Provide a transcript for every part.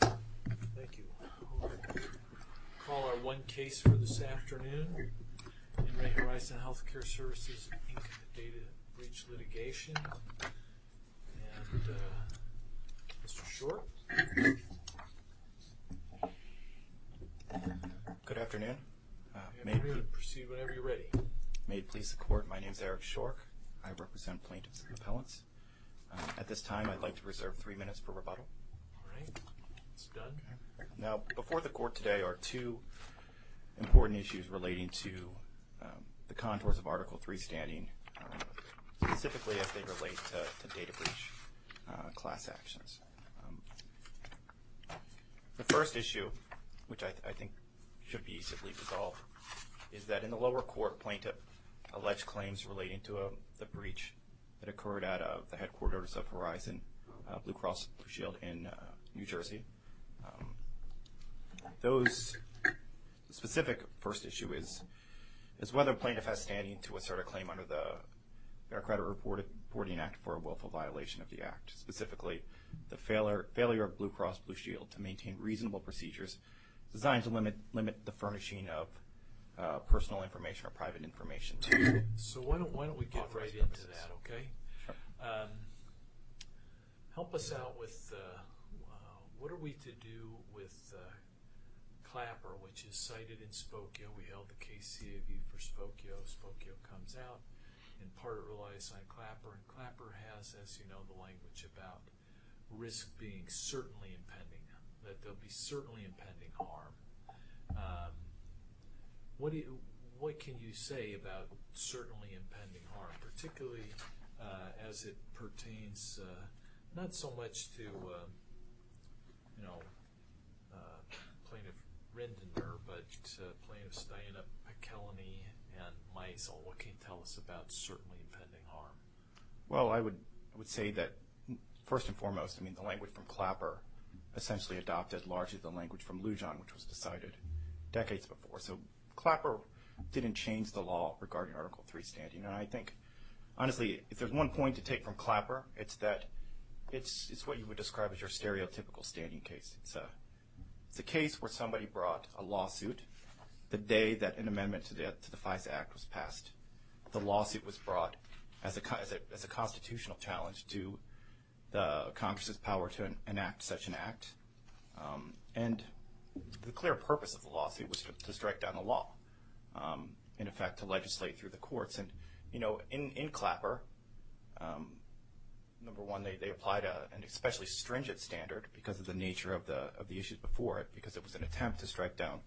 Thank you. We'll call our one case for this afternoon in Re Horizon Healthcare Services Inc. Data Breach Litigation. And Mr. Shork. Good afternoon. You may proceed whenever you're ready. May it please the court, my name is Eric Shork. I represent plaintiffs and appellants. At this time, I'd like to reserve three minutes for rebuttal. Now, before the court today are two important issues relating to the contours of Article 3 standing, specifically as they relate to data breach class actions. The first issue, which I think should be simply resolved, is that in the lower court, plaintiff alleged claims relating to the breach that occurred at the headquarters of Horizon Blue Cross Blue Shield in New Jersey. Those specific first issue is whether plaintiff has standing to assert a claim under the Fair Credit Reporting Act for a willful violation of the act. Specifically, the failure of Blue Cross Blue Shield to maintain reasonable procedures designed to limit the furnishing of personal information or private information. So why don't we get right into that, okay? Help us out with what are we to do with Clapper, which is cited in Spokio. We held the case CAV for Spokio. Spokio comes out, in part relies on Clapper. And Clapper has, as you know, the language about risk being certainly impending, that there'll be certainly impending harm. What can you say about certainly impending harm, particularly as it pertains not so much to, you know, Plaintiff Rendiner, but Plaintiffs Diana McKelleny and Maisel. What can you tell us about certainly impending harm? Well, I would say that first and foremost, I mean, the language from Clapper essentially adopted largely the language from Lujan, which was decided decades before. So Clapper didn't change the law regarding Article III standing. And I think, honestly, if there's one point to take from Clapper, it's that it's what you would describe as your stereotypical standing case. It's a case where somebody brought a lawsuit the day that an amendment to the Constitution was passed, as a constitutional challenge to the Congress's power to enact such an act. And the clear purpose of the lawsuit was to strike down the law, in effect to legislate through the courts. And, you know, in Clapper, number one, they applied an especially stringent standard because of the nature of the issues before it, because it was an attempt to strike down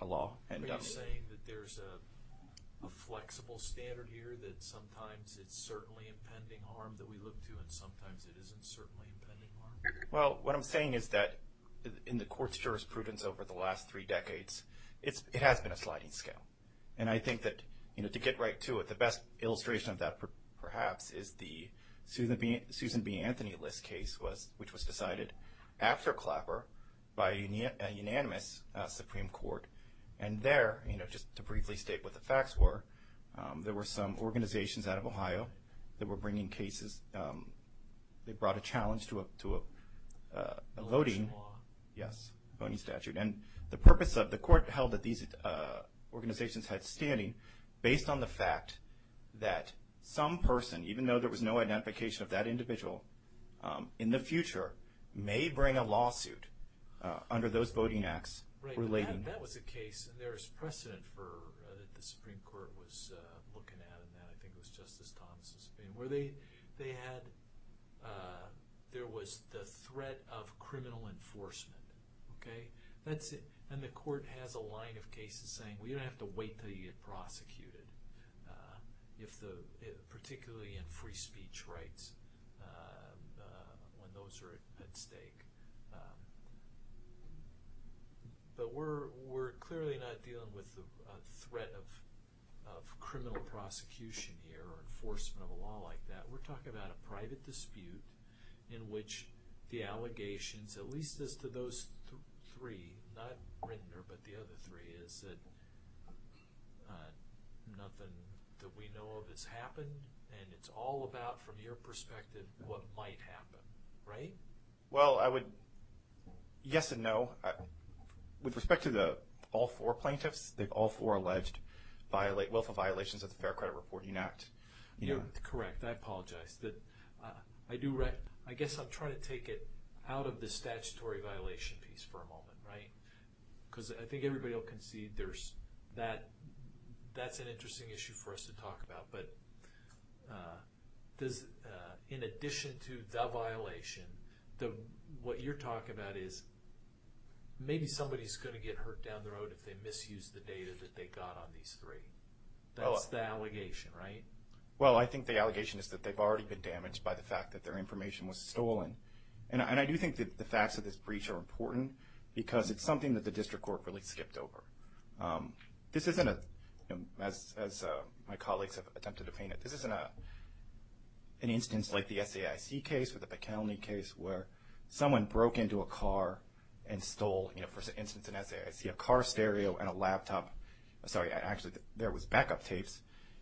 a law. Are you saying that there's a flexible standard here that sometimes it's certainly impending harm that we look to and sometimes it isn't certainly impending harm? Well, what I'm saying is that in the Court's jurisprudence over the last three decades, it has been a sliding scale. And I think that, you know, to get right to it, the best illustration of that perhaps is the Susan B. Anthony List case, which was decided after Clapper by a unanimous Supreme Court. And there, you know, just to briefly state what the facts were, there were some organizations out of Ohio that were bringing cases. They brought a challenge to a voting statute. Election law. Yes, voting statute. And the purpose of the Court held that these organizations had standing based on the fact that some person, even though there was no identification of that individual, in the future may bring a lawsuit under those circumstances. And the precedent that the Supreme Court was looking at in that, I think it was Justice Thomas' opinion, where they had, there was the threat of criminal enforcement. Okay? And the Court has a line of cases saying, well, you don't have to wait until you get prosecuted, particularly in free speech rights, when those are at stake. But we're clearly not dealing with the threat of criminal prosecution here or enforcement of a law like that. We're talking about a private dispute in which the allegations, at least as to those three, not Rindner, but the other three, is that nothing that we know of has happened. And it's all about, from your perspective, what might happen. Right? Well, I would, yes and no. With respect to all four plaintiffs, they've all four alleged wealth of violations of the Fair Credit Reporting Act. You're correct. I apologize. I guess I'm trying to take it out of the statutory violation piece for a moment, right? Because I think everybody will concede there's, that's an What you're talking about is, maybe somebody's going to get hurt down the road if they misuse the data that they got on these three. That's the allegation, right? Well, I think the allegation is that they've already been damaged by the fact that their information was stolen. And I do think that the facts of this breach are important, because it's something that the District Court really skipped over. This isn't a, as my colleagues have attempted to paint it, this isn't an instance like the SAIC case or the McKelney case where someone broke into a car and stole, you know, for instance, an SAIC, a car stereo and a laptop. Sorry, actually, there was backup tapes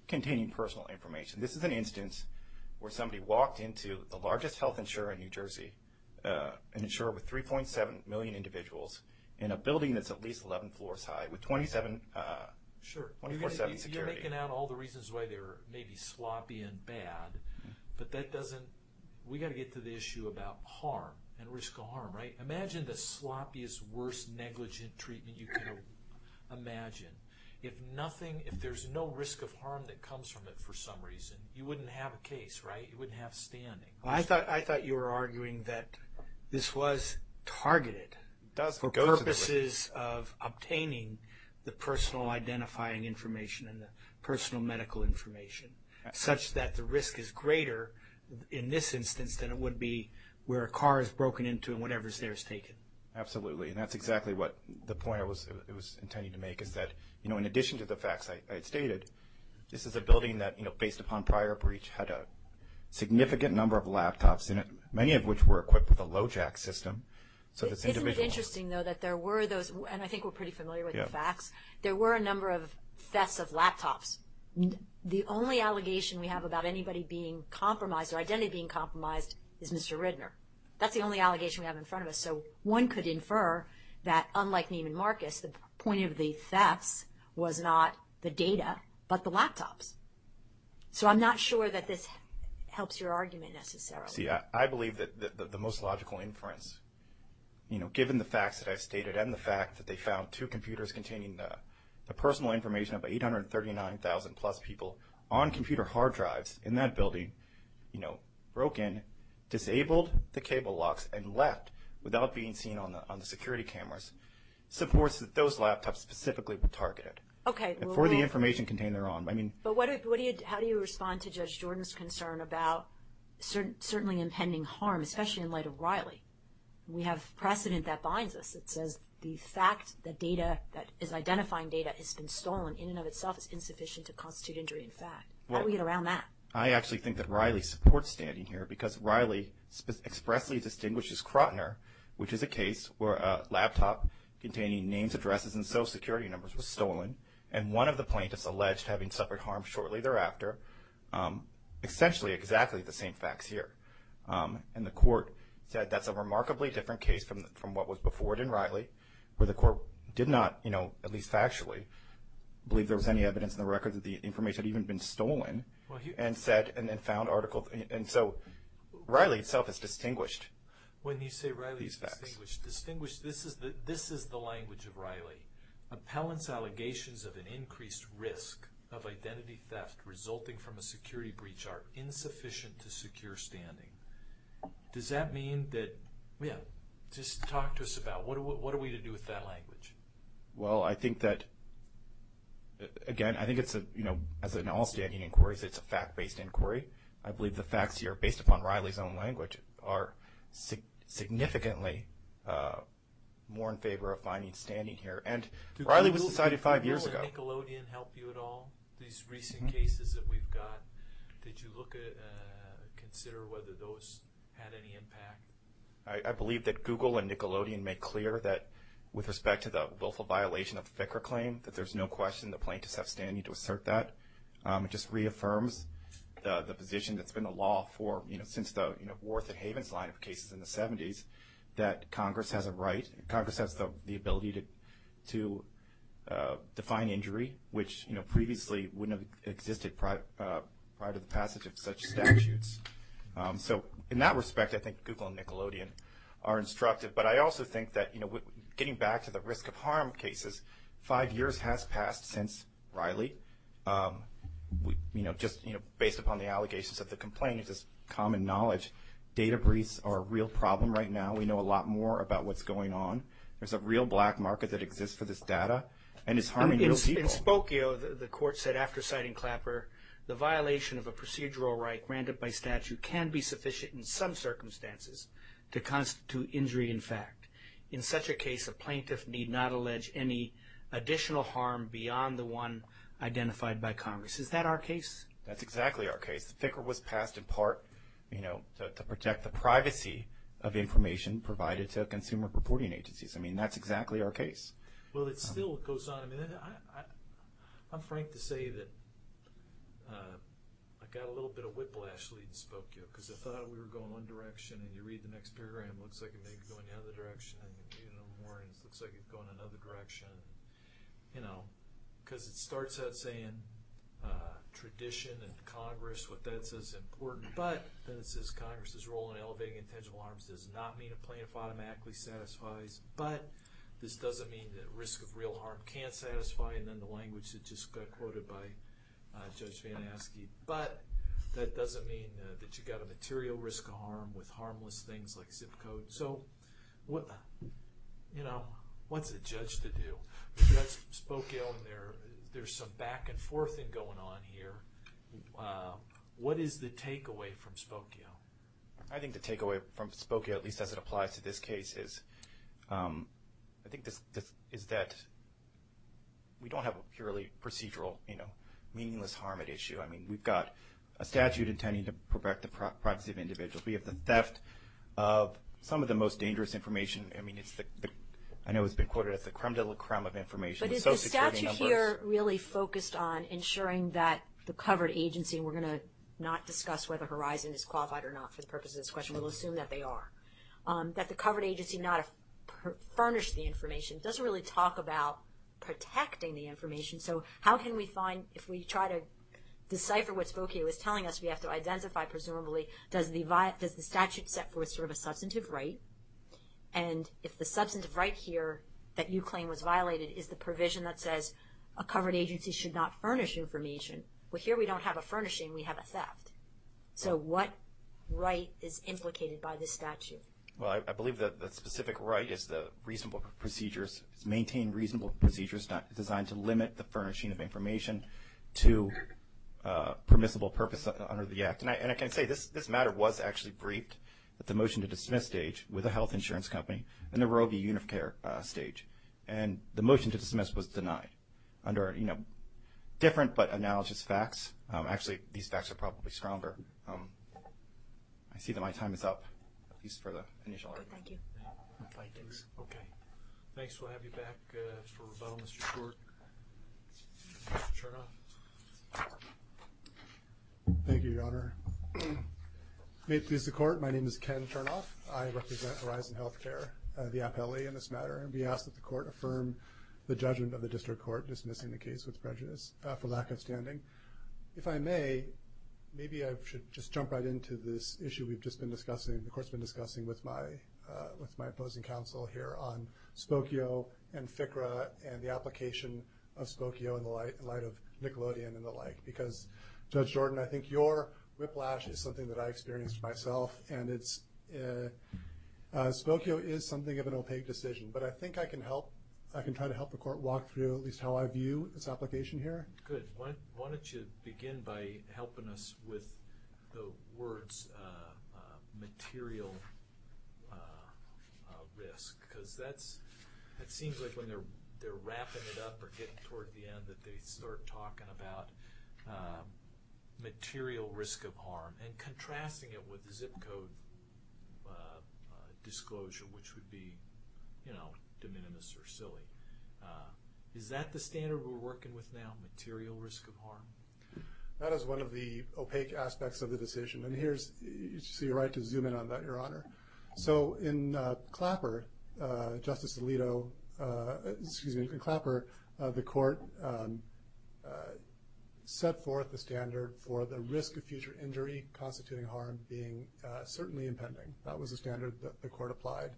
containing personal information. This is an instance where somebody walked into the largest health insurer in New Jersey, an insurer with 3.7 million individuals, in a building that's at least 11 floors high with 27, 24-7 security. You're making out all the reasons why they were maybe sloppy and bad, but that doesn't, we got to get to the issue about harm and risk of harm, right? Imagine the sloppiest, worst negligent treatment you can imagine. If nothing, if there's no risk of harm that comes from it for some reason, you wouldn't have a case, right? You wouldn't have standing. I thought you were arguing that this was targeted for purposes of obtaining the personal identifying information and the personal medical information, such that the risk is greater in this instance than it would be where a car is broken into and whatever's there is taken. Absolutely. And that's exactly what the point I was intending to make is that, you know, in addition to the facts I had stated, this is a building that, you know, based upon prior breach, had a significant number of laptops in it, many of which were equipped with a LoJack system. Isn't it interesting, though, that there were those, and I think we're pretty familiar with the facts, there were a number of thefts of laptops. The only allegation we have about anybody being compromised or identity being compromised is Mr. Ridner. That's the only allegation we have in front of us. So one could infer that, unlike Neiman Marcus, the point of the thefts was not the data, but the laptops. So I'm not sure that this helps your argument necessarily. See, I believe that the most logical inference, you know, given the facts that I've stated and the fact that they found two computers containing the personal information of 839,000 plus people on computer hard drives in that building, you know, broken, disabled the cable locks and left without being seen on the security cameras, supports that those laptops specifically were targeted. Okay. And for the information contained thereon. But how do you respond to Judge Jordan's concern about certainly impending harm, especially in light of Riley? We have precedent that binds us. It says the fact that data that is identifying data has been stolen in and of itself is insufficient to constitute injury in fact. How do we get around that? I actually think that Riley supports standing here because Riley expressly distinguishes Crotner, which is a case where a laptop containing names, addresses, and social security numbers was stolen. And one of the plaintiffs alleged having suffered harm shortly thereafter. Essentially exactly the same facts here. And the court said that's a remarkably different case from what was before it in Riley, where the court did not, you know, at least factually believe there was any evidence in the record that the information had even been stolen. And said, and then found articles. And so Riley itself is distinguished. When you say Riley is distinguished, distinguished, this is the language of Riley. Appellant's allegations of an increased risk of identity theft resulting from a security breach are insufficient to secure standing. Does that mean that, yeah, just talk to us about what are we to do with that language? Well, I think that, again, I think it's a, you know, as in all standing inquiries, it's a fact-based inquiry. I believe the facts here, based upon Riley's own language, are significantly more in favor of finding standing here. And Riley was decided five years ago. Did Google and Nickelodeon help you at all, these recent cases that we've got? Did you look at, consider whether those had any impact? I believe that Google and Nickelodeon made clear that, with respect to the willful violation of the Vicar Claim, that there's no question the plaintiffs have standing to assert that. It just reaffirms the position that's been the law for, you know, since the, you know, Wharton Havens line of cases in the 70s, that Congress has a right, Congress has the ability to define injury, which, you know, previously wouldn't have existed prior to the passage of such statutes. So, in that respect, I think Google and Nickelodeon are instructive. But I also think that, you know, getting back to the risk of harm cases, five years has passed since Riley. You know, just, you know, based upon the allegations of the complaint, it's just common knowledge. Data breaches are a real problem right now. We know a lot more about what's going on. There's a real black market that exists for this data, and it's harming real people. In Spokio, the court said after citing Clapper, the violation of a procedural right granted by statute can be sufficient in some circumstances to constitute injury in fact. In such a case, a plaintiff need not allege any additional harm beyond the one identified by Congress. Is that our case? That's exactly our case. The figure was passed in part, you know, to protect the privacy of information provided to consumer reporting agencies. I mean, that's exactly our case. Well, it still goes on. I mean, I'm frank to say that I got a little bit of whiplash leading Spokio, because I thought we were going one direction, and you read the next paragraph, it looks like it may be going the other direction, and you read it a little more, and it looks like it's going another direction. You know, because it starts out saying tradition and Congress, what that says is important, but then it says Congress's role in elevating intentional harms does not mean a plaintiff automatically satisfies, but this doesn't mean that risk of real harm can't satisfy, and then the language that just got quoted by Judge Van Aske, but that doesn't mean that you've got a material risk of harm with harmless things like zip code. So, you know, what's the judge to do? That's Spokio, and there's some back and forth going on here. What is the takeaway from Spokio? I think the takeaway from Spokio, at least as it applies to this case, is that we don't have a purely procedural, you know, meaningless harm at issue. I mean, we've got a statute intending to protect the privacy of individuals. We have the theft of some of the most dangerous information. I mean, I know it's been quoted as the creme de la creme of information. But is the statute here really focused on ensuring that the covered agency, and we're assuming that they are, that the covered agency not furnished the information, doesn't really talk about protecting the information. So, how can we find, if we try to decipher what Spokio is telling us, we have to identify, presumably, does the statute set forth sort of a substantive right, and if the substantive right here that you claim was violated is the provision that says a covered agency should not furnish information. Well, here we don't have a furnishing, we have a theft. So, what right is implicated by this statute? Well, I believe that the specific right is the reasonable procedures, maintain reasonable procedures designed to limit the furnishing of information to permissible purpose under the act. And I can say this matter was actually briefed at the motion to dismiss stage with a health insurance company in the Roe v. Unicare stage. And the motion to dismiss was denied under, you know, different but analogous facts. Actually, these facts are probably stronger. I see that my time is up, at least for the initial argument. Okay, thank you. Okay, thanks. We'll have you back for rebuttal, Mr. Short. Mr. Chernoff. Thank you, Your Honor. May it please the Court, my name is Ken Chernoff. I represent Horizon Healthcare, the appellee in this matter, and we ask that the Court affirm the judgment of the District Court dismissing the case with prejudice for lack of standing. If I may, maybe I should just jump right into this issue we've just been discussing, the Court's been discussing with my opposing counsel here on Spokio and FCRA and the application of Spokio in light of Nickelodeon and the like. Because, Judge Jordan, I think your whiplash is something that I experienced myself, and Spokio is something of an opaque decision. But I think I can help, I can try to help the Court walk through at least how I view this application here. Good. Why don't you begin by helping us with the words, material risk. Because that's, it seems like when they're wrapping it up or getting toward the end that they start talking about material risk of harm and contrasting it with the zip code disclosure, which would be, you know, de minimis or silly. Is that the standard we're working with now, material risk of harm? That is one of the opaque aspects of the decision. And here's, so you're right to zoom in on that, Your Honor. So in Clapper, Justice Alito, excuse me, in Clapper, the Court set forth the standard for the risk of future injury constituting harm being certainly impending. That was a standard that the Court applied.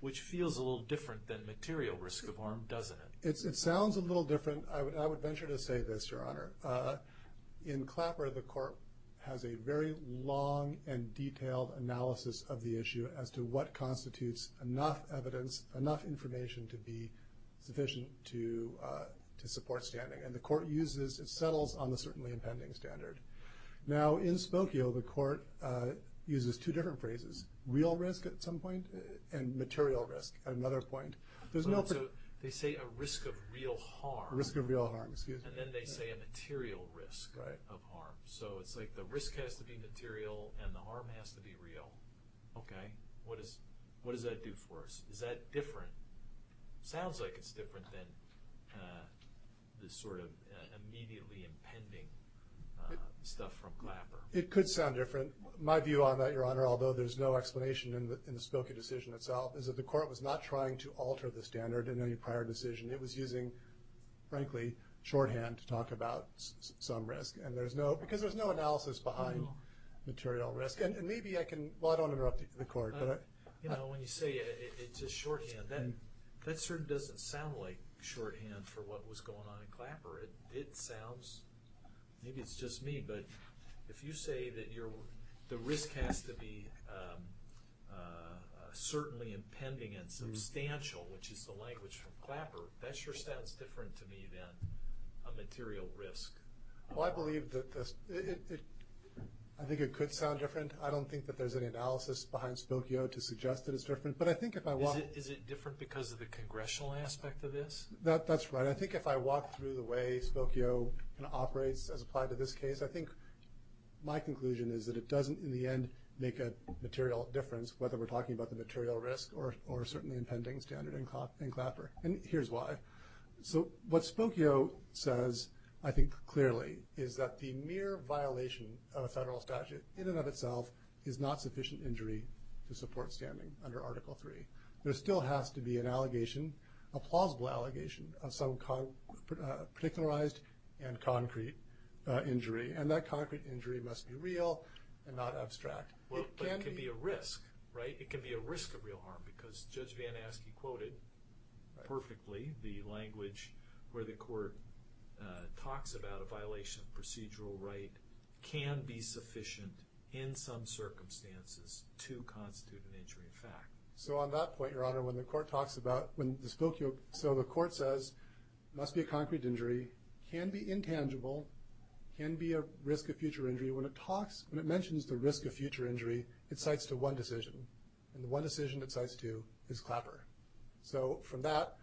Which feels a little different than material risk of harm, doesn't it? It sounds a little different. I would venture to say this, Your Honor. In Clapper, the Court has a very long and detailed analysis of the issue as to what constitutes enough evidence, enough information to be sufficient to support standing. And the Court uses, it settles on the certainly impending standard. Now in Spokio, the Court uses two different phrases, real risk at some point and material risk at another point. There's no... They say a risk of real harm. A risk of real harm, excuse me. And then they say a material risk of harm. So it's like the risk has to be material and the harm has to be real. Okay. What does that do for us? Is that different? Sounds like it's different than this sort of immediately impending stuff from Clapper. It could sound different. My view on that, Your Honor, although there's no explanation in the Spokio decision itself, is that the Court was not trying to alter the standard in any prior decision. It was using, frankly, shorthand to talk about some risk. And there's no... Because there's no analysis behind material risk. And maybe I can... Well, I don't interrupt You know, when you say it's a shorthand, that certainly doesn't sound like shorthand for what was going on in Clapper. It sounds... Maybe it's just me, but if you say that the risk has to be certainly impending and substantial, which is the language from Clapper, that sure sounds different to me than a material risk. Well, I believe that... I think it could sound different. I don't think that there's any analysis behind Spokio to suggest that it's different. But I think if I walk... Is it different because of the congressional aspect of this? That's right. I think if I walk through the way Spokio operates as applied to this case, I think my conclusion is that it doesn't, in the end, make a material difference, whether we're talking about the material risk or certainly impending standard in Clapper. And here's why. So what Spokio says, I think clearly, is that the mere violation of a federal statute in and of itself is not sufficient injury to support standing under Article III. There still has to be an allegation, a plausible allegation, of some particularized and concrete injury, and that concrete injury must be real and not abstract. But it can be a risk, right? It can be a risk of real harm, because Judge Van Aske quoted perfectly the language where the court talks about a violation of procedural right can be sufficient in some circumstances to constitute an injury in fact. So on that point, Your Honor, when the court talks about... So the court says, must be a concrete injury, can be intangible, can be a risk of future injury. When it mentions the risk of future injury, it cites to one decision. And the one decision it cites to is Clapper. So from that,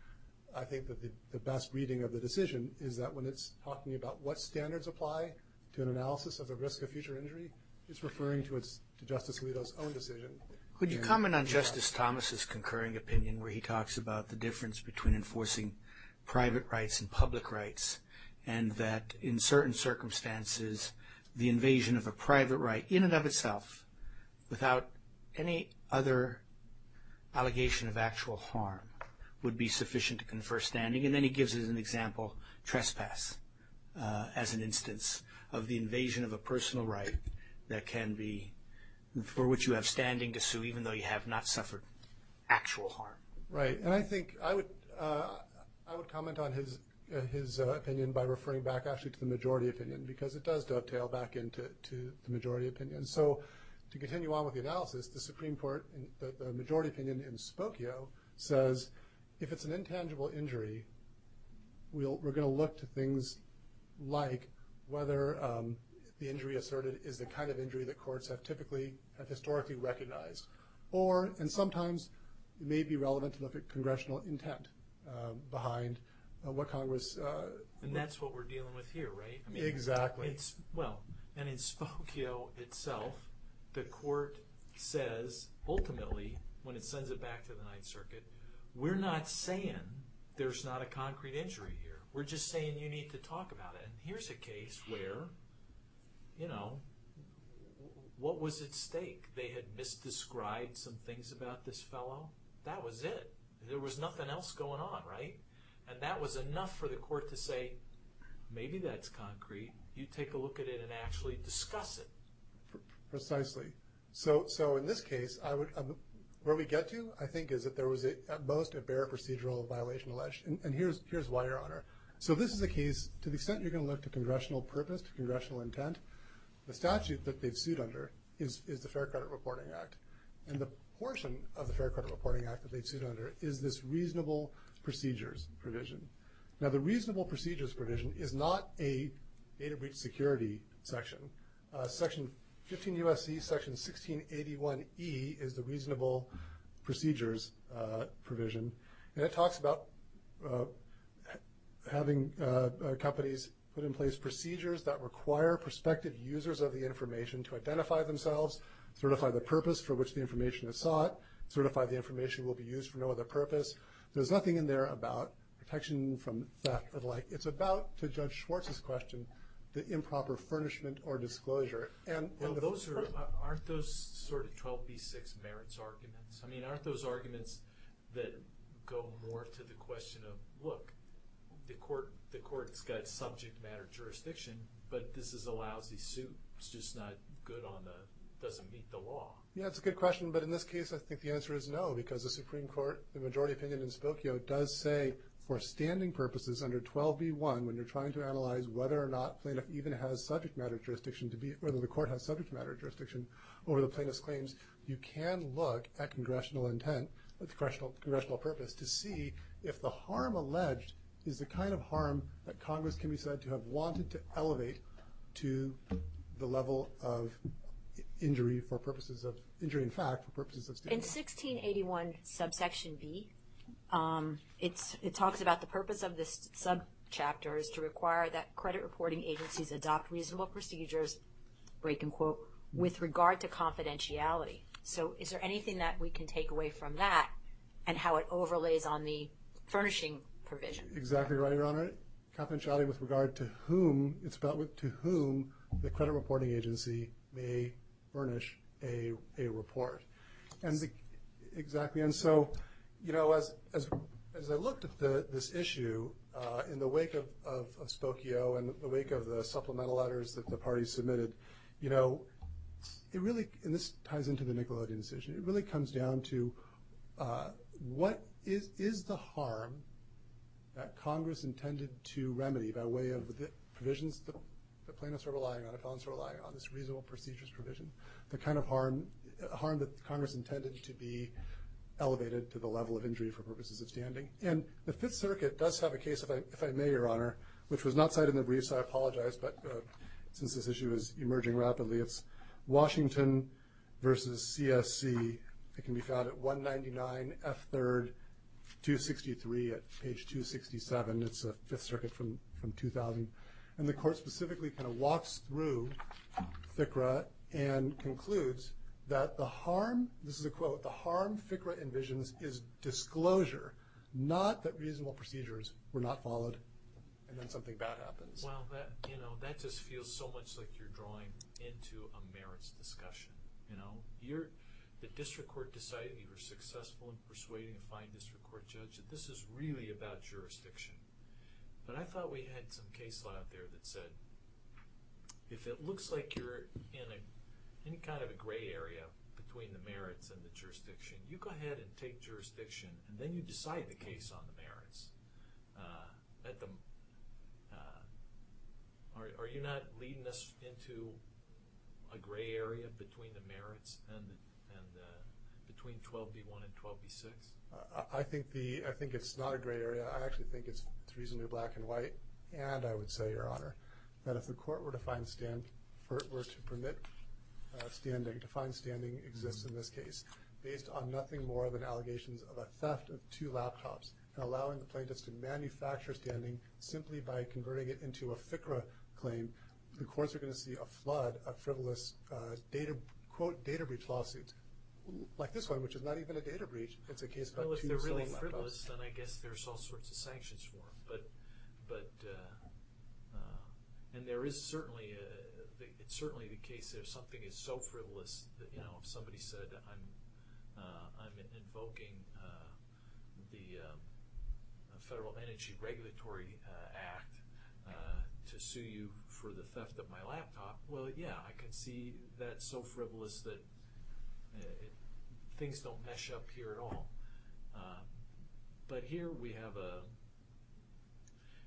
I think that the best reading of the decision is that when it's talking about what standards apply to an analysis of a risk of future injury, it's referring to Justice Alito's own decision. Could you comment on Justice Thomas' concurring opinion where he talks about the difference between enforcing private rights and public rights, and that in certain circumstances the invasion of a private right in and of itself, without any other allegation of actual harm, would be sufficient to confer standing? And then he gives an example, trespass, as an instance of the invasion of a personal right that can be... for which you have standing to sue even though you have not suffered actual harm. Right. And I think I would comment on his opinion by referring back actually to the majority opinion, because it does dovetail back into the majority opinion. So to continue on with the analysis, the Supreme Court, the majority opinion in Spokio says if it's an intangible injury, we're going to look to things like whether the injury asserted is the kind of injury that courts have historically recognized. Or, and sometimes it may be relevant to look at congressional intent behind what Congress... And that's what we're dealing with here, right? Exactly. Well, and in Spokio itself, the court says ultimately, when it sends it back to the Ninth Circuit, we're not saying there's not a concrete injury here. We're just saying you need to talk about it. And here's a case where, you know, what was at stake? They had misdescribed some things about this fellow. That was it. There was nothing else going on, right? And that was enough for the court to say, maybe that's concrete. You take a look at it and actually discuss it. Precisely. So in this case, where we get to, I think, is that there was at most a bare procedural violation alleged. And here's why, Your Honor. So this is a case, to the extent you're going to look to congressional purpose, to congressional intent, the statute that they've sued under is the Fair Credit Reporting Act. And the portion of the Fair Credit Reporting Act that they sued under is this reasonable procedures provision. Now, the reasonable procedures provision is not a data breach security section. Section 15 U.S.C. Section 1681E is the reasonable procedures provision. And it talks about having companies put in place procedures that require prospective users of the information to identify themselves, certify the purpose for which the information is sought, certify the information will be used for no other purpose. There's nothing in there about protection from theft or the like. It's about, to Judge Schwartz's question, the improper furnishment or disclosure. Well, aren't those sort of 12b-6 merits arguments? I mean, aren't those arguments that go more to the question of, look, the court's got subject matter jurisdiction, but this is a Yeah, that's a good question. But in this case, I think the answer is no, because the Supreme Court, the majority opinion in Spokio does say, for standing purposes under 12b-1, when you're trying to analyze whether or not plaintiff even has subject matter jurisdiction to be, whether the court has subject matter jurisdiction over the plaintiff's claims, you can look at congressional intent with congressional purpose to see if the harm alleged is the kind of harm that Congress can be said to have wanted to elevate to the level of injury for purposes of, injury in fact, for purposes of In 1681 subsection b, it talks about the purpose of this subchapter is to require that credit reporting agencies adopt reasonable procedures, break and quote, with regard to confidentiality. So is there anything that we can take away from that and how it overlays on the furnishing provision? Exactly right, Your Honor. Confidentiality with regard to whom, it's about to whom the plaintiff is going to furnish a report. Exactly. And so, you know, as I looked at this issue in the wake of Spokio and the wake of the supplemental letters that the party submitted, you know, it really, and this ties into the Nickelodeon decision, it really comes down to what is the harm that Congress intended to remedy by way of the provisions that plaintiffs are relying on, appellants are relying on, this reasonable procedures provision. The kind of harm that Congress intended to be elevated to the level of injury for purposes of standing. And the Fifth Circuit does have a case, if I may, Your Honor, which was not cited in the brief, so I apologize, but since this issue is emerging rapidly, it's Washington v. CSC. It can be found at 199 F. 3rd, 263 at page 267. It's the Fifth Circuit from 2000. And the Court specifically kind of walks through FCRA and concludes that the harm, this is a quote, the harm FCRA envisions is disclosure, not that reasonable procedures were not followed and then something bad happens. Well, you know, that just feels so much like you're drawing into a merits discussion, you know. You're, the district court decided you were successful in persuading a fine district court judge that this is really about jurisdiction. But I thought we had some case law out there that said if it looks like you're in any kind of a gray area between the merits and the jurisdiction, you go ahead and take jurisdiction and then you decide the case on the merits. Are you not leading us into a gray area between the merits and between 12b1 and 12b6? I think the, I think it's not a gray area. I actually think it's reasonably black and white. And I would say, Your Honor, that if the court were to find stand, were to permit standing, to find standing exists in this case based on nothing more than allegations of a theft of two laptops and allowing the plaintiffs to manufacture standing simply by converting it into a FCRA claim, the courts are going to see a flood of frivolous data, quote, data breach lawsuits like this one, which is not even a data breach. It's a case about two or so laptops. Well, if they're really frivolous, then I guess there's all sorts of sanctions for them. But, and there is certainly, it's certainly the case if something is so frivolous that, you know, if somebody said I'm invoking the Federal Energy Regulatory Act to sue you for the theft of my laptop, well, yeah, I can see that's so frivolous that things don't mesh up here at all. But here we have a,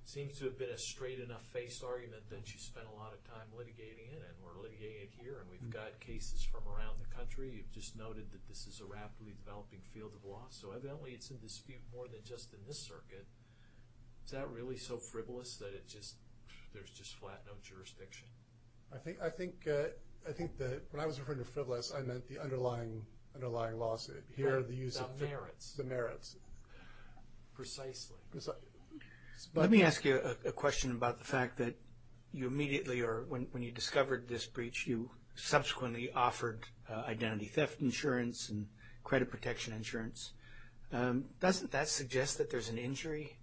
seems to have been a straight enough face argument that you spent a lot of time litigating it and we're litigating it here and we've got cases from around the country. You've just noted that this is a rapidly developing field of law. So, evidently it's in dispute more than just in this circuit. Is that really so frivolous that it just, there's just flat no jurisdiction? I think, I think, I think that when I was referring to frivolous, I meant the underlying, underlying lawsuit. Here the use of, the merits. Precisely. Let me ask you a question about the fact that you immediately, or when you discovered this breach, you subsequently offered identity theft insurance and credit protection insurance. Doesn't that suggest that there's an injury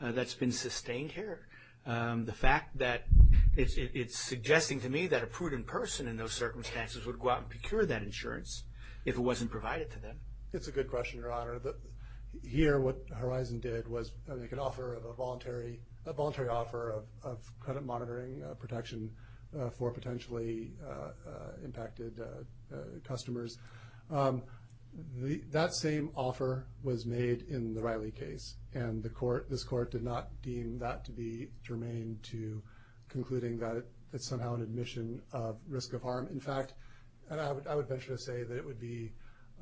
that's been sustained here? The fact that, it's suggesting to me that a prudent person in those circumstances would go out and procure that insurance if it wasn't provided to them. It's a good question, Your Honor. Here what Horizon did was make an offer of a voluntary, a voluntary offer of credit monitoring protection for potentially impacted customers. That same offer was made in the Riley case. And the court, this court did not deem that to be germane to concluding that it's somehow an admission of risk of harm. In fact, I would venture to say that it would be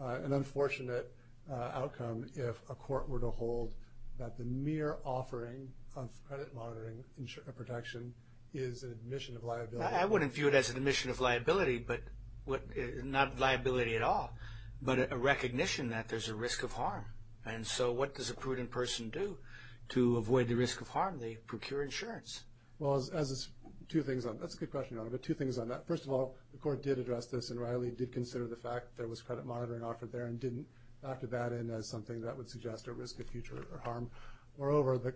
an unfortunate outcome if a court were to hold that the mere offering of credit monitoring insurance protection is an admission of liability. I wouldn't view it as an admission of liability, but not liability at all, but a recognition that there's a risk of harm. And so what does a prudent person do to avoid the risk of harm? They procure insurance. Well, that's a good question, Your Honor, but two things on that. First of all, the court did address this, and Riley did consider the fact that there was credit monitoring offered there and didn't factor that in as something that would suggest a risk of future harm. Moreover,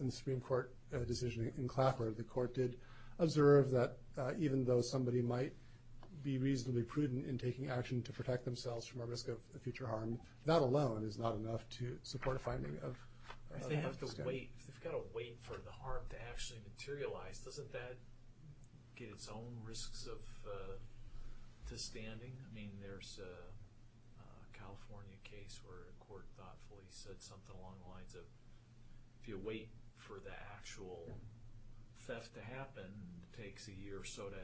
in the Supreme Court decision in Clapper, the court did observe that even though somebody might be reasonably prudent in taking action to protect themselves from a risk of future harm, that alone is not enough to support a finding of a risk of future harm. If they have to wait, if they've got to wait for the harm to actually materialize, doesn't that get its own risks of, to standing? I mean, there's a California case where a court thoughtfully said something along the lines of, if you wait for the actual theft to happen, and it takes a year or so to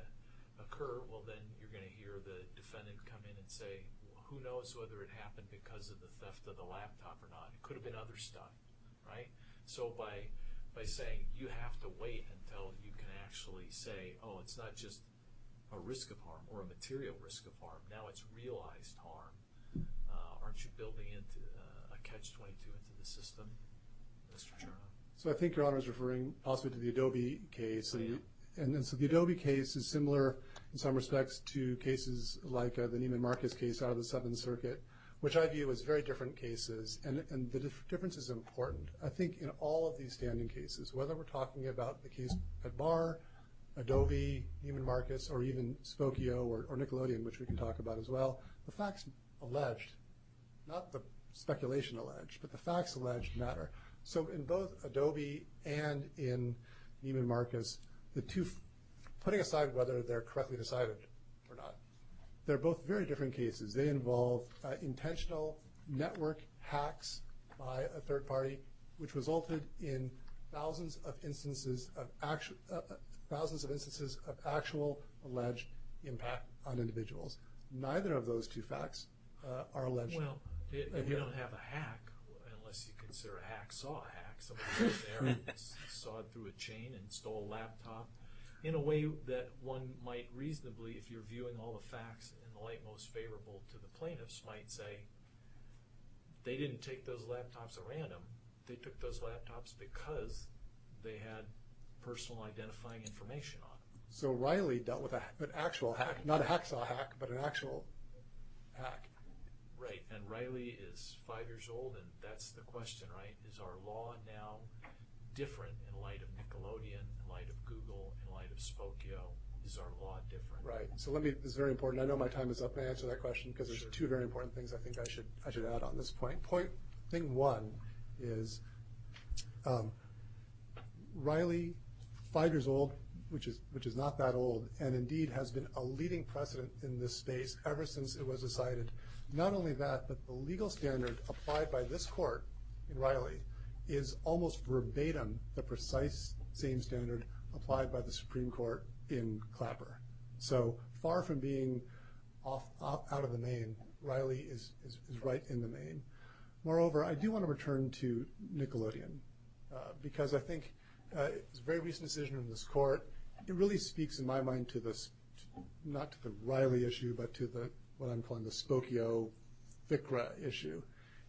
occur, well, then you're going to hear the defendant come in and say, who knows whether it happened because of the theft of the laptop or not. It could have been other stuff, right? So by saying you have to wait until you can actually say, oh, it's not just a risk of harm, or a material risk of harm, now it's realized harm, aren't you building a catch-22 into the system, Mr. Chairman? So I think Your Honor is referring possibly to the Adobe case. And so the Adobe case is similar in some respects to cases like the Neiman Marcus case out of the Seventh Circuit, which I view as very different cases, and the difference is important. I think in all of these standing cases, whether we're talking about the case at Barr, Adobe, Neiman Marcus, or even Spokio or Nickelodeon, which we can talk about as well, the facts alleged, not the speculation alleged, but the facts alleged matter. So in both Adobe and in Neiman Marcus, putting aside whether they're correctly decided or not, they're both very different cases. They involve intentional network hacks by a third party, which resulted in thousands of instances of actual alleged impact on individuals. Neither of those two facts are alleged. Well, you don't have a hack unless you consider a hack saw a hack. Someone went there and sawed through a chain and stole a laptop. In a way that one might reasonably, if you're viewing all the facts in the light most favorable to the plaintiffs, might say they didn't take those laptops at random. They took those laptops because they had personal identifying information on them. So Riley dealt with an actual hack, not a hack saw hack, but an actual hack. Right, and Riley is five years old, and that's the question, right? Is our law now different in light of Nickelodeon, in light of Google, in light of Spokio? Is our law different? Right, so let me, this is very important, I know my time is up. May I answer that question? Because there's two very important things I think I should add on this point. Point, thing one is Riley, five years old, which is not that old, and indeed has been a leading precedent in this space ever since it was decided. Not only that, but the legal standard applied by this court in Riley is almost verbatim the precise same standard applied by the Supreme Court in Clapper. So far from being out of the name, Riley is right in the name. Moreover, I do want to return to Nickelodeon, because I think it's a very recent decision in this court. But it really speaks in my mind to this, not to the Riley issue, but to what I'm calling the Spokio FICRA issue.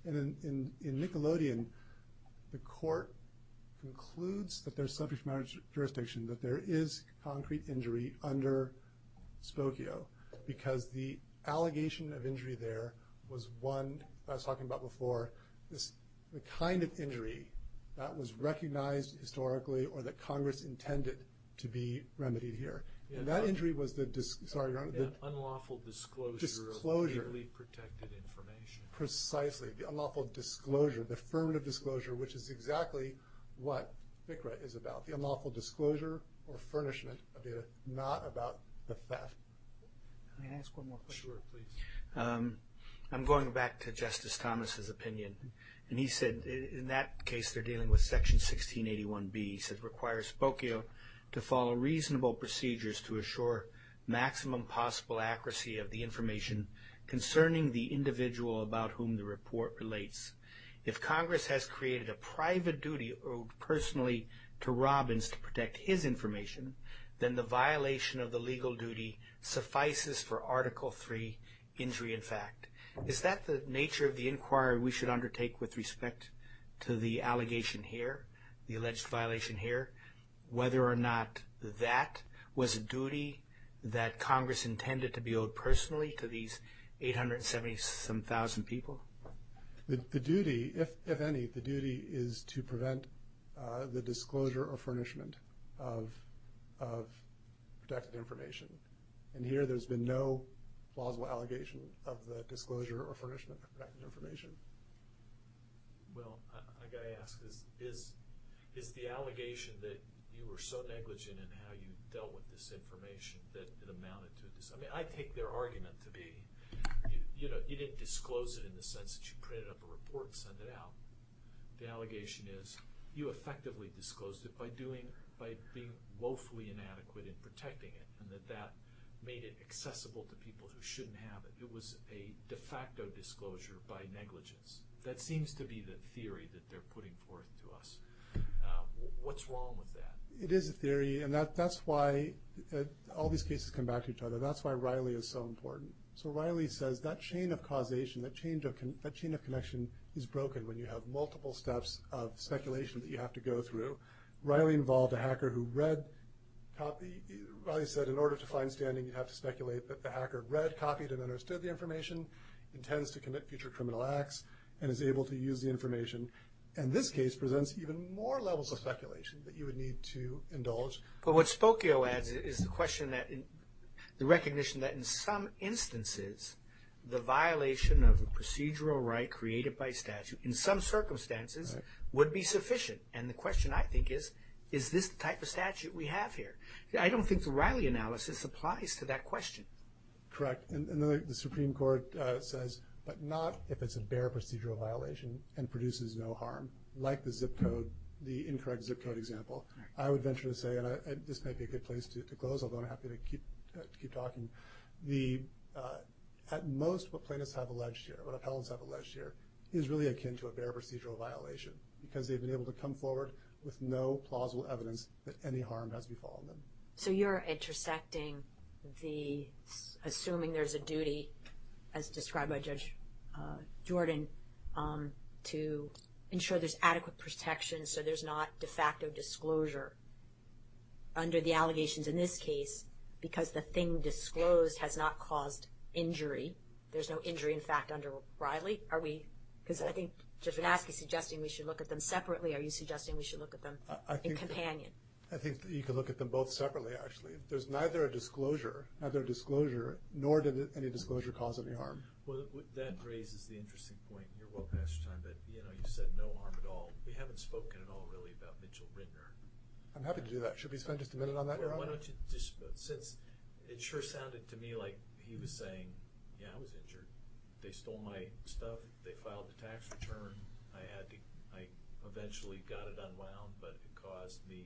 And in Nickelodeon, the court concludes that there's sufficient jurisdiction that there is concrete injury under Spokio, because the allegation of injury there was one, as I was talking about before, the kind of injury that was recognized historically or that Congress intended to be remedied here. And that injury was the... Unlawful disclosure of legally protected information. Precisely, the unlawful disclosure, the affirmative disclosure, which is exactly what FICRA is about. The unlawful disclosure or furnishment of data, not about the theft. Can I ask one more question? Sure, please. I'm going back to Justice Thomas's opinion. And he said, in that case, they're dealing with Section 1681B. He said, requires Spokio to follow reasonable procedures to assure maximum possible accuracy of the information concerning the individual about whom the report relates. If Congress has created a private duty owed personally to Robbins to protect his information, then the violation of the legal duty suffices for Article III, injury in fact. Is that the nature of the inquiry we should undertake with respect to the allegation here, the alleged violation here, whether or not that was a duty that Congress intended to be owed personally to these 877,000 people? The duty, if any, the duty is to prevent the disclosure or furnishment of protected information. And here there's been no plausible allegation of the disclosure or furnishment of protected information. Well, I've got to ask, is the allegation that you were so negligent in how you dealt with this information that it amounted to this? I mean, I take their argument to be you didn't disclose it in the sense that you printed up a report and sent it out. The allegation is you effectively disclosed it by being woefully inadequate in protecting it and that that made it accessible to people who shouldn't have it. It was a de facto disclosure by negligence. That seems to be the theory that they're putting forth to us. What's wrong with that? It is a theory, and that's why all these cases come back to each other. That's why Riley is so important. So Riley says that chain of causation, that chain of connection is broken when you have multiple steps of speculation that you have to go through. Riley involved a hacker who read, copied. Riley said in order to find standing you have to speculate that the hacker read, copied, and understood the information, intends to commit future criminal acts, and is able to use the information. And this case presents even more levels of speculation that you would need to indulge. But what Spokio adds is the question that the recognition that in some instances the violation of a procedural right created by statute in some circumstances would be sufficient. And the question I think is, is this the type of statute we have here? I don't think the Riley analysis applies to that question. Correct. And the Supreme Court says, but not if it's a bare procedural violation and produces no harm, like the zip code, the incorrect zip code example. I would venture to say, and this might be a good place to close, although I'm happy to keep talking, at most what plaintiffs have alleged here, what appellants have alleged here, is really akin to a bare procedural violation because they've been able to come forward with no plausible evidence that any harm has befallen them. So you're intersecting the assuming there's a duty, as described by Judge Jordan, to ensure there's adequate protection so there's not de facto disclosure under the allegations in this case because the thing disclosed has not caused injury, there's no injury in fact under Riley? Are we, because I think Judge Van Aske is suggesting we should look at them separately. Are you suggesting we should look at them in companion? I think you could look at them both separately, actually. There's neither a disclosure, nor did any disclosure cause any harm. Well, that raises the interesting point, and you're well past your time, but you said no harm at all. We haven't spoken at all really about Mitchell Rindner. I'm happy to do that. Should we spend just a minute on that, Your Honor? Why don't you just, since it sure sounded to me like he was saying, yeah, I was injured, they stole my stuff, they filed a tax return, I eventually got it unwound, but it caused me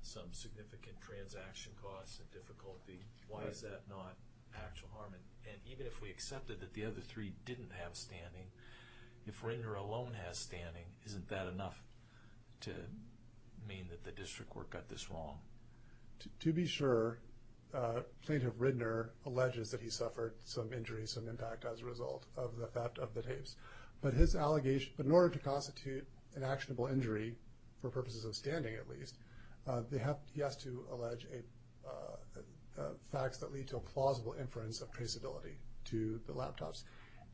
some significant transaction costs and difficulty. Why is that not actual harm? And even if we accepted that the other three didn't have standing, if Rindner alone has standing, isn't that enough to mean that the district court got this wrong? To be sure, Plaintiff Rindner alleges that he suffered some injuries, some impact as a result of the theft of the tapes. But in order to constitute an actionable injury, for purposes of standing at least, he has to allege facts that lead to a plausible inference of traceability to the laptops.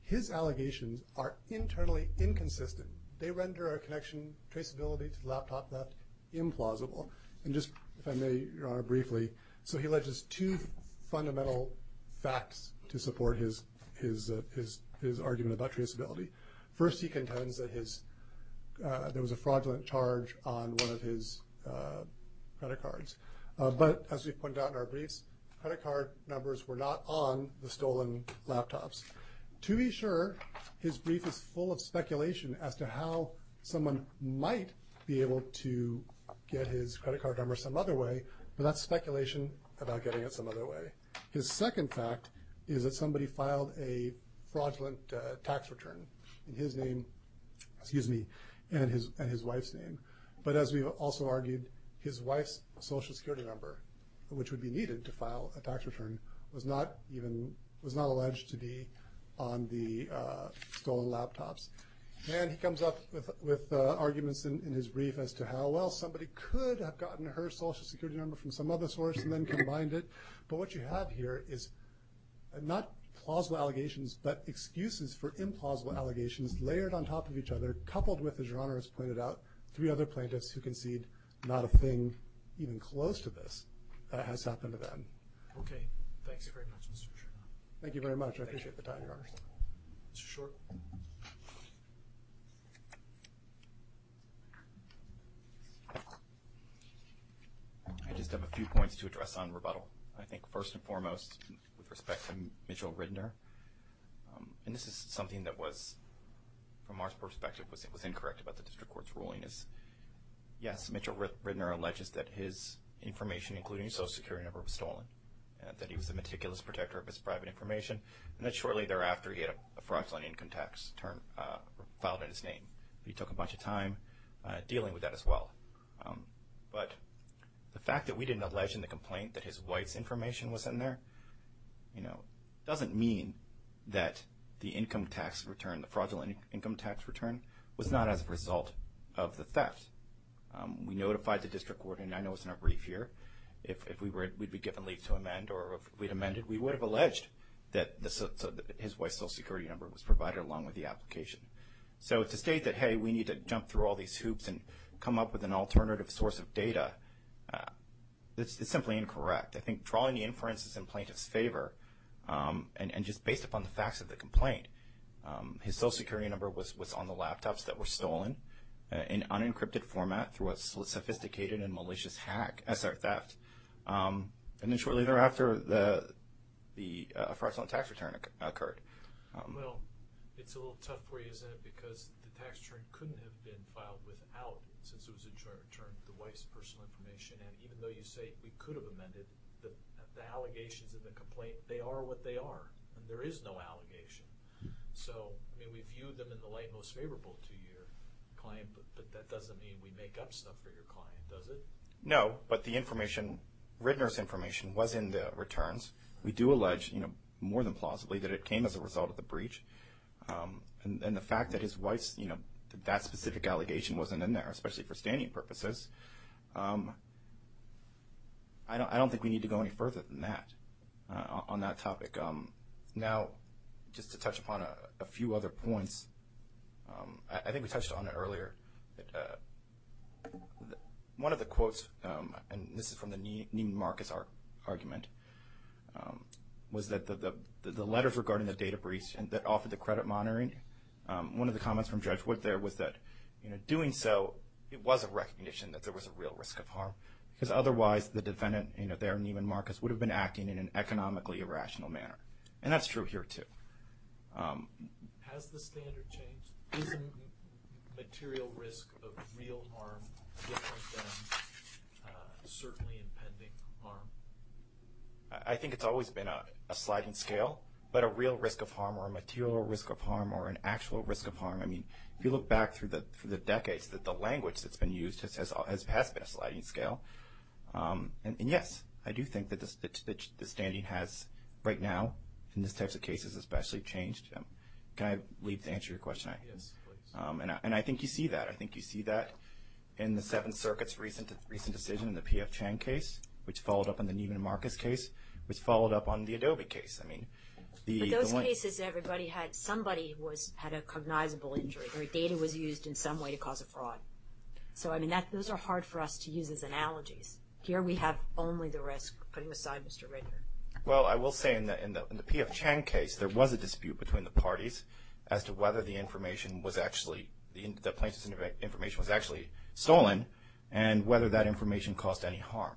His allegations are internally inconsistent. They render our connection traceability to the laptop theft implausible. And just, if I may, Your Honor, briefly, so he alleges two fundamental facts to support his argument about traceability. First, he contends that there was a fraudulent charge on one of his credit cards. But as we've pointed out in our briefs, credit card numbers were not on the stolen laptops. To be sure, his brief is full of speculation as to how someone might be able to get his credit card number some other way, but that's speculation about getting it some other way. His second fact is that somebody filed a fraudulent tax return in his name, excuse me, in his wife's name. But as we've also argued, his wife's social security number, which would be needed to file a tax return, was not alleged to be on the stolen laptops. And he comes up with arguments in his brief as to how, well, somebody could have gotten her social security number from some other source and then combined it. But what you have here is not plausible allegations, but excuses for implausible allegations layered on top of each other, coupled with, as Your Honor has pointed out, three other plaintiffs who concede not a thing even close to this that has happened to them. Okay. Thanks very much, Mr. Chernow. Thank you very much. I appreciate the time, Your Honor. Mr. Short. I just have a few points to address on rebuttal. I think first and foremost, with respect to Mitchell Ridener, and this is something that was, from our perspective, was incorrect about the district court's ruling, is yes, Mitchell Ridener alleges that his information, including his social security number, was stolen, that he was a meticulous protector of his private information, and that shortly thereafter he had a fraudulent income tax return filed in his name. He took a bunch of time dealing with that as well. But the fact that we didn't allege in the complaint that his wife's information was in there, you know, doesn't mean that the income tax return, the fraudulent income tax return, was not as a result of the theft. We notified the district court, and I know it's in our brief here, if we'd been given leave to amend or if we'd amended, we would have alleged that his wife's social security number was provided along with the application. So to state that, hey, we need to jump through all these hoops and come up with an alternative source of data, it's simply incorrect. I think drawing the inferences in plaintiff's favor and just based upon the facts of the complaint, his social security number was on the laptops that were stolen in unencrypted format through a sophisticated and malicious hack as their theft. And then shortly thereafter, the fraudulent tax return occurred. Well, it's a little tough for you, isn't it? Because the tax return couldn't have been filed without, since it was a joint return, the wife's personal information. And even though you say we could have amended the allegations in the complaint, they are what they are. There is no allegation. So, I mean, we view them in the light most favorable to your client, but that doesn't mean we make up stuff for your client, does it? No. But the information, Rittner's information, was in the returns. We do allege, you know, more than plausibly, that it came as a result of the breach. And the fact that his wife's, you know, that specific allegation wasn't in there, especially for standing purposes, I don't think we need to go any further than that on that topic. Now, just to touch upon a few other points, I think we touched on it earlier. One of the quotes, and this is from the Neiman Marcus argument, was that the letters regarding the data breach that offered the credit monitoring, one of the comments from Judge Wood there was that, you know, doing so, it was a recognition that there was a real risk of harm, because otherwise the defendant, you know, there, Neiman Marcus, would have been acting in an economically irrational manner. And that's true here, too. Has the standard changed? Is the material risk of real harm different than certainly impending harm? I think it's always been a sliding scale, but a real risk of harm or a material risk of harm or an actual risk of harm, I mean, if you look back through the decades, the language that's been used has been a sliding scale. And, yes, I do think that the standing has, right now, in these types of cases especially, changed. Can I leave to answer your question? Yes, please. And I think you see that. I think you see that in the Seventh Circuit's recent decision in the P.F. Chang case, which followed up on the Neiman Marcus case, which followed up on the Adobe case. But those cases, everybody had, somebody had a cognizable injury, or data was used in some way to cause a fraud. So, I mean, those are hard for us to use as analogies. Here we have only the risk. Putting aside Mr. Ritter. Well, I will say in the P.F. Chang case, there was a dispute between the parties as to whether the information was actually, the plaintiff's information was actually stolen and whether that information caused any harm.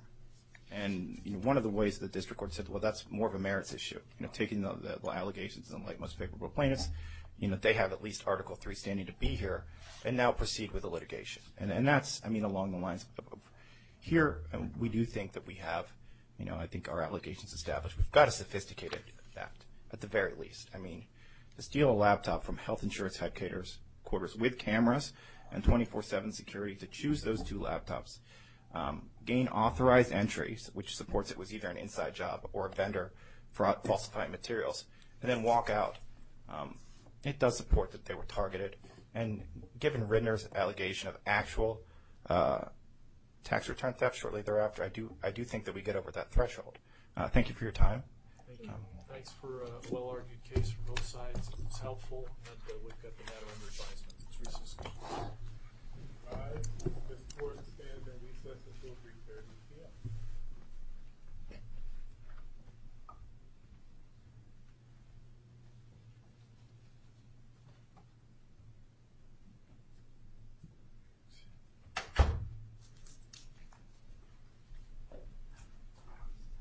And one of the ways the district court said, well, that's more of a merits issue. Taking the allegations of the most favorable plaintiffs, you know, they have at least Article III standing to be here, and now proceed with the litigation. And that's, I mean, along the lines of, here we do think that we have, you know, I think our allegations established we've got to sophisticate that at the very least. I mean, to steal a laptop from health insurance headquarters with cameras and 24-7 security to choose those two laptops, gain authorized entries, which supports it was either an inside job or a vendor for falsifying materials, and then walk out. It does support that they were targeted. And given Ritter's allegation of actual tax return theft shortly thereafter, I do think that we get over that threshold. Thank you for your time. Thank you. Thanks for a well-argued case from both sides. It's helpful that we've got the matter under advisement. It's reasonable. All right. This court stands on recess until 3.30 p.m.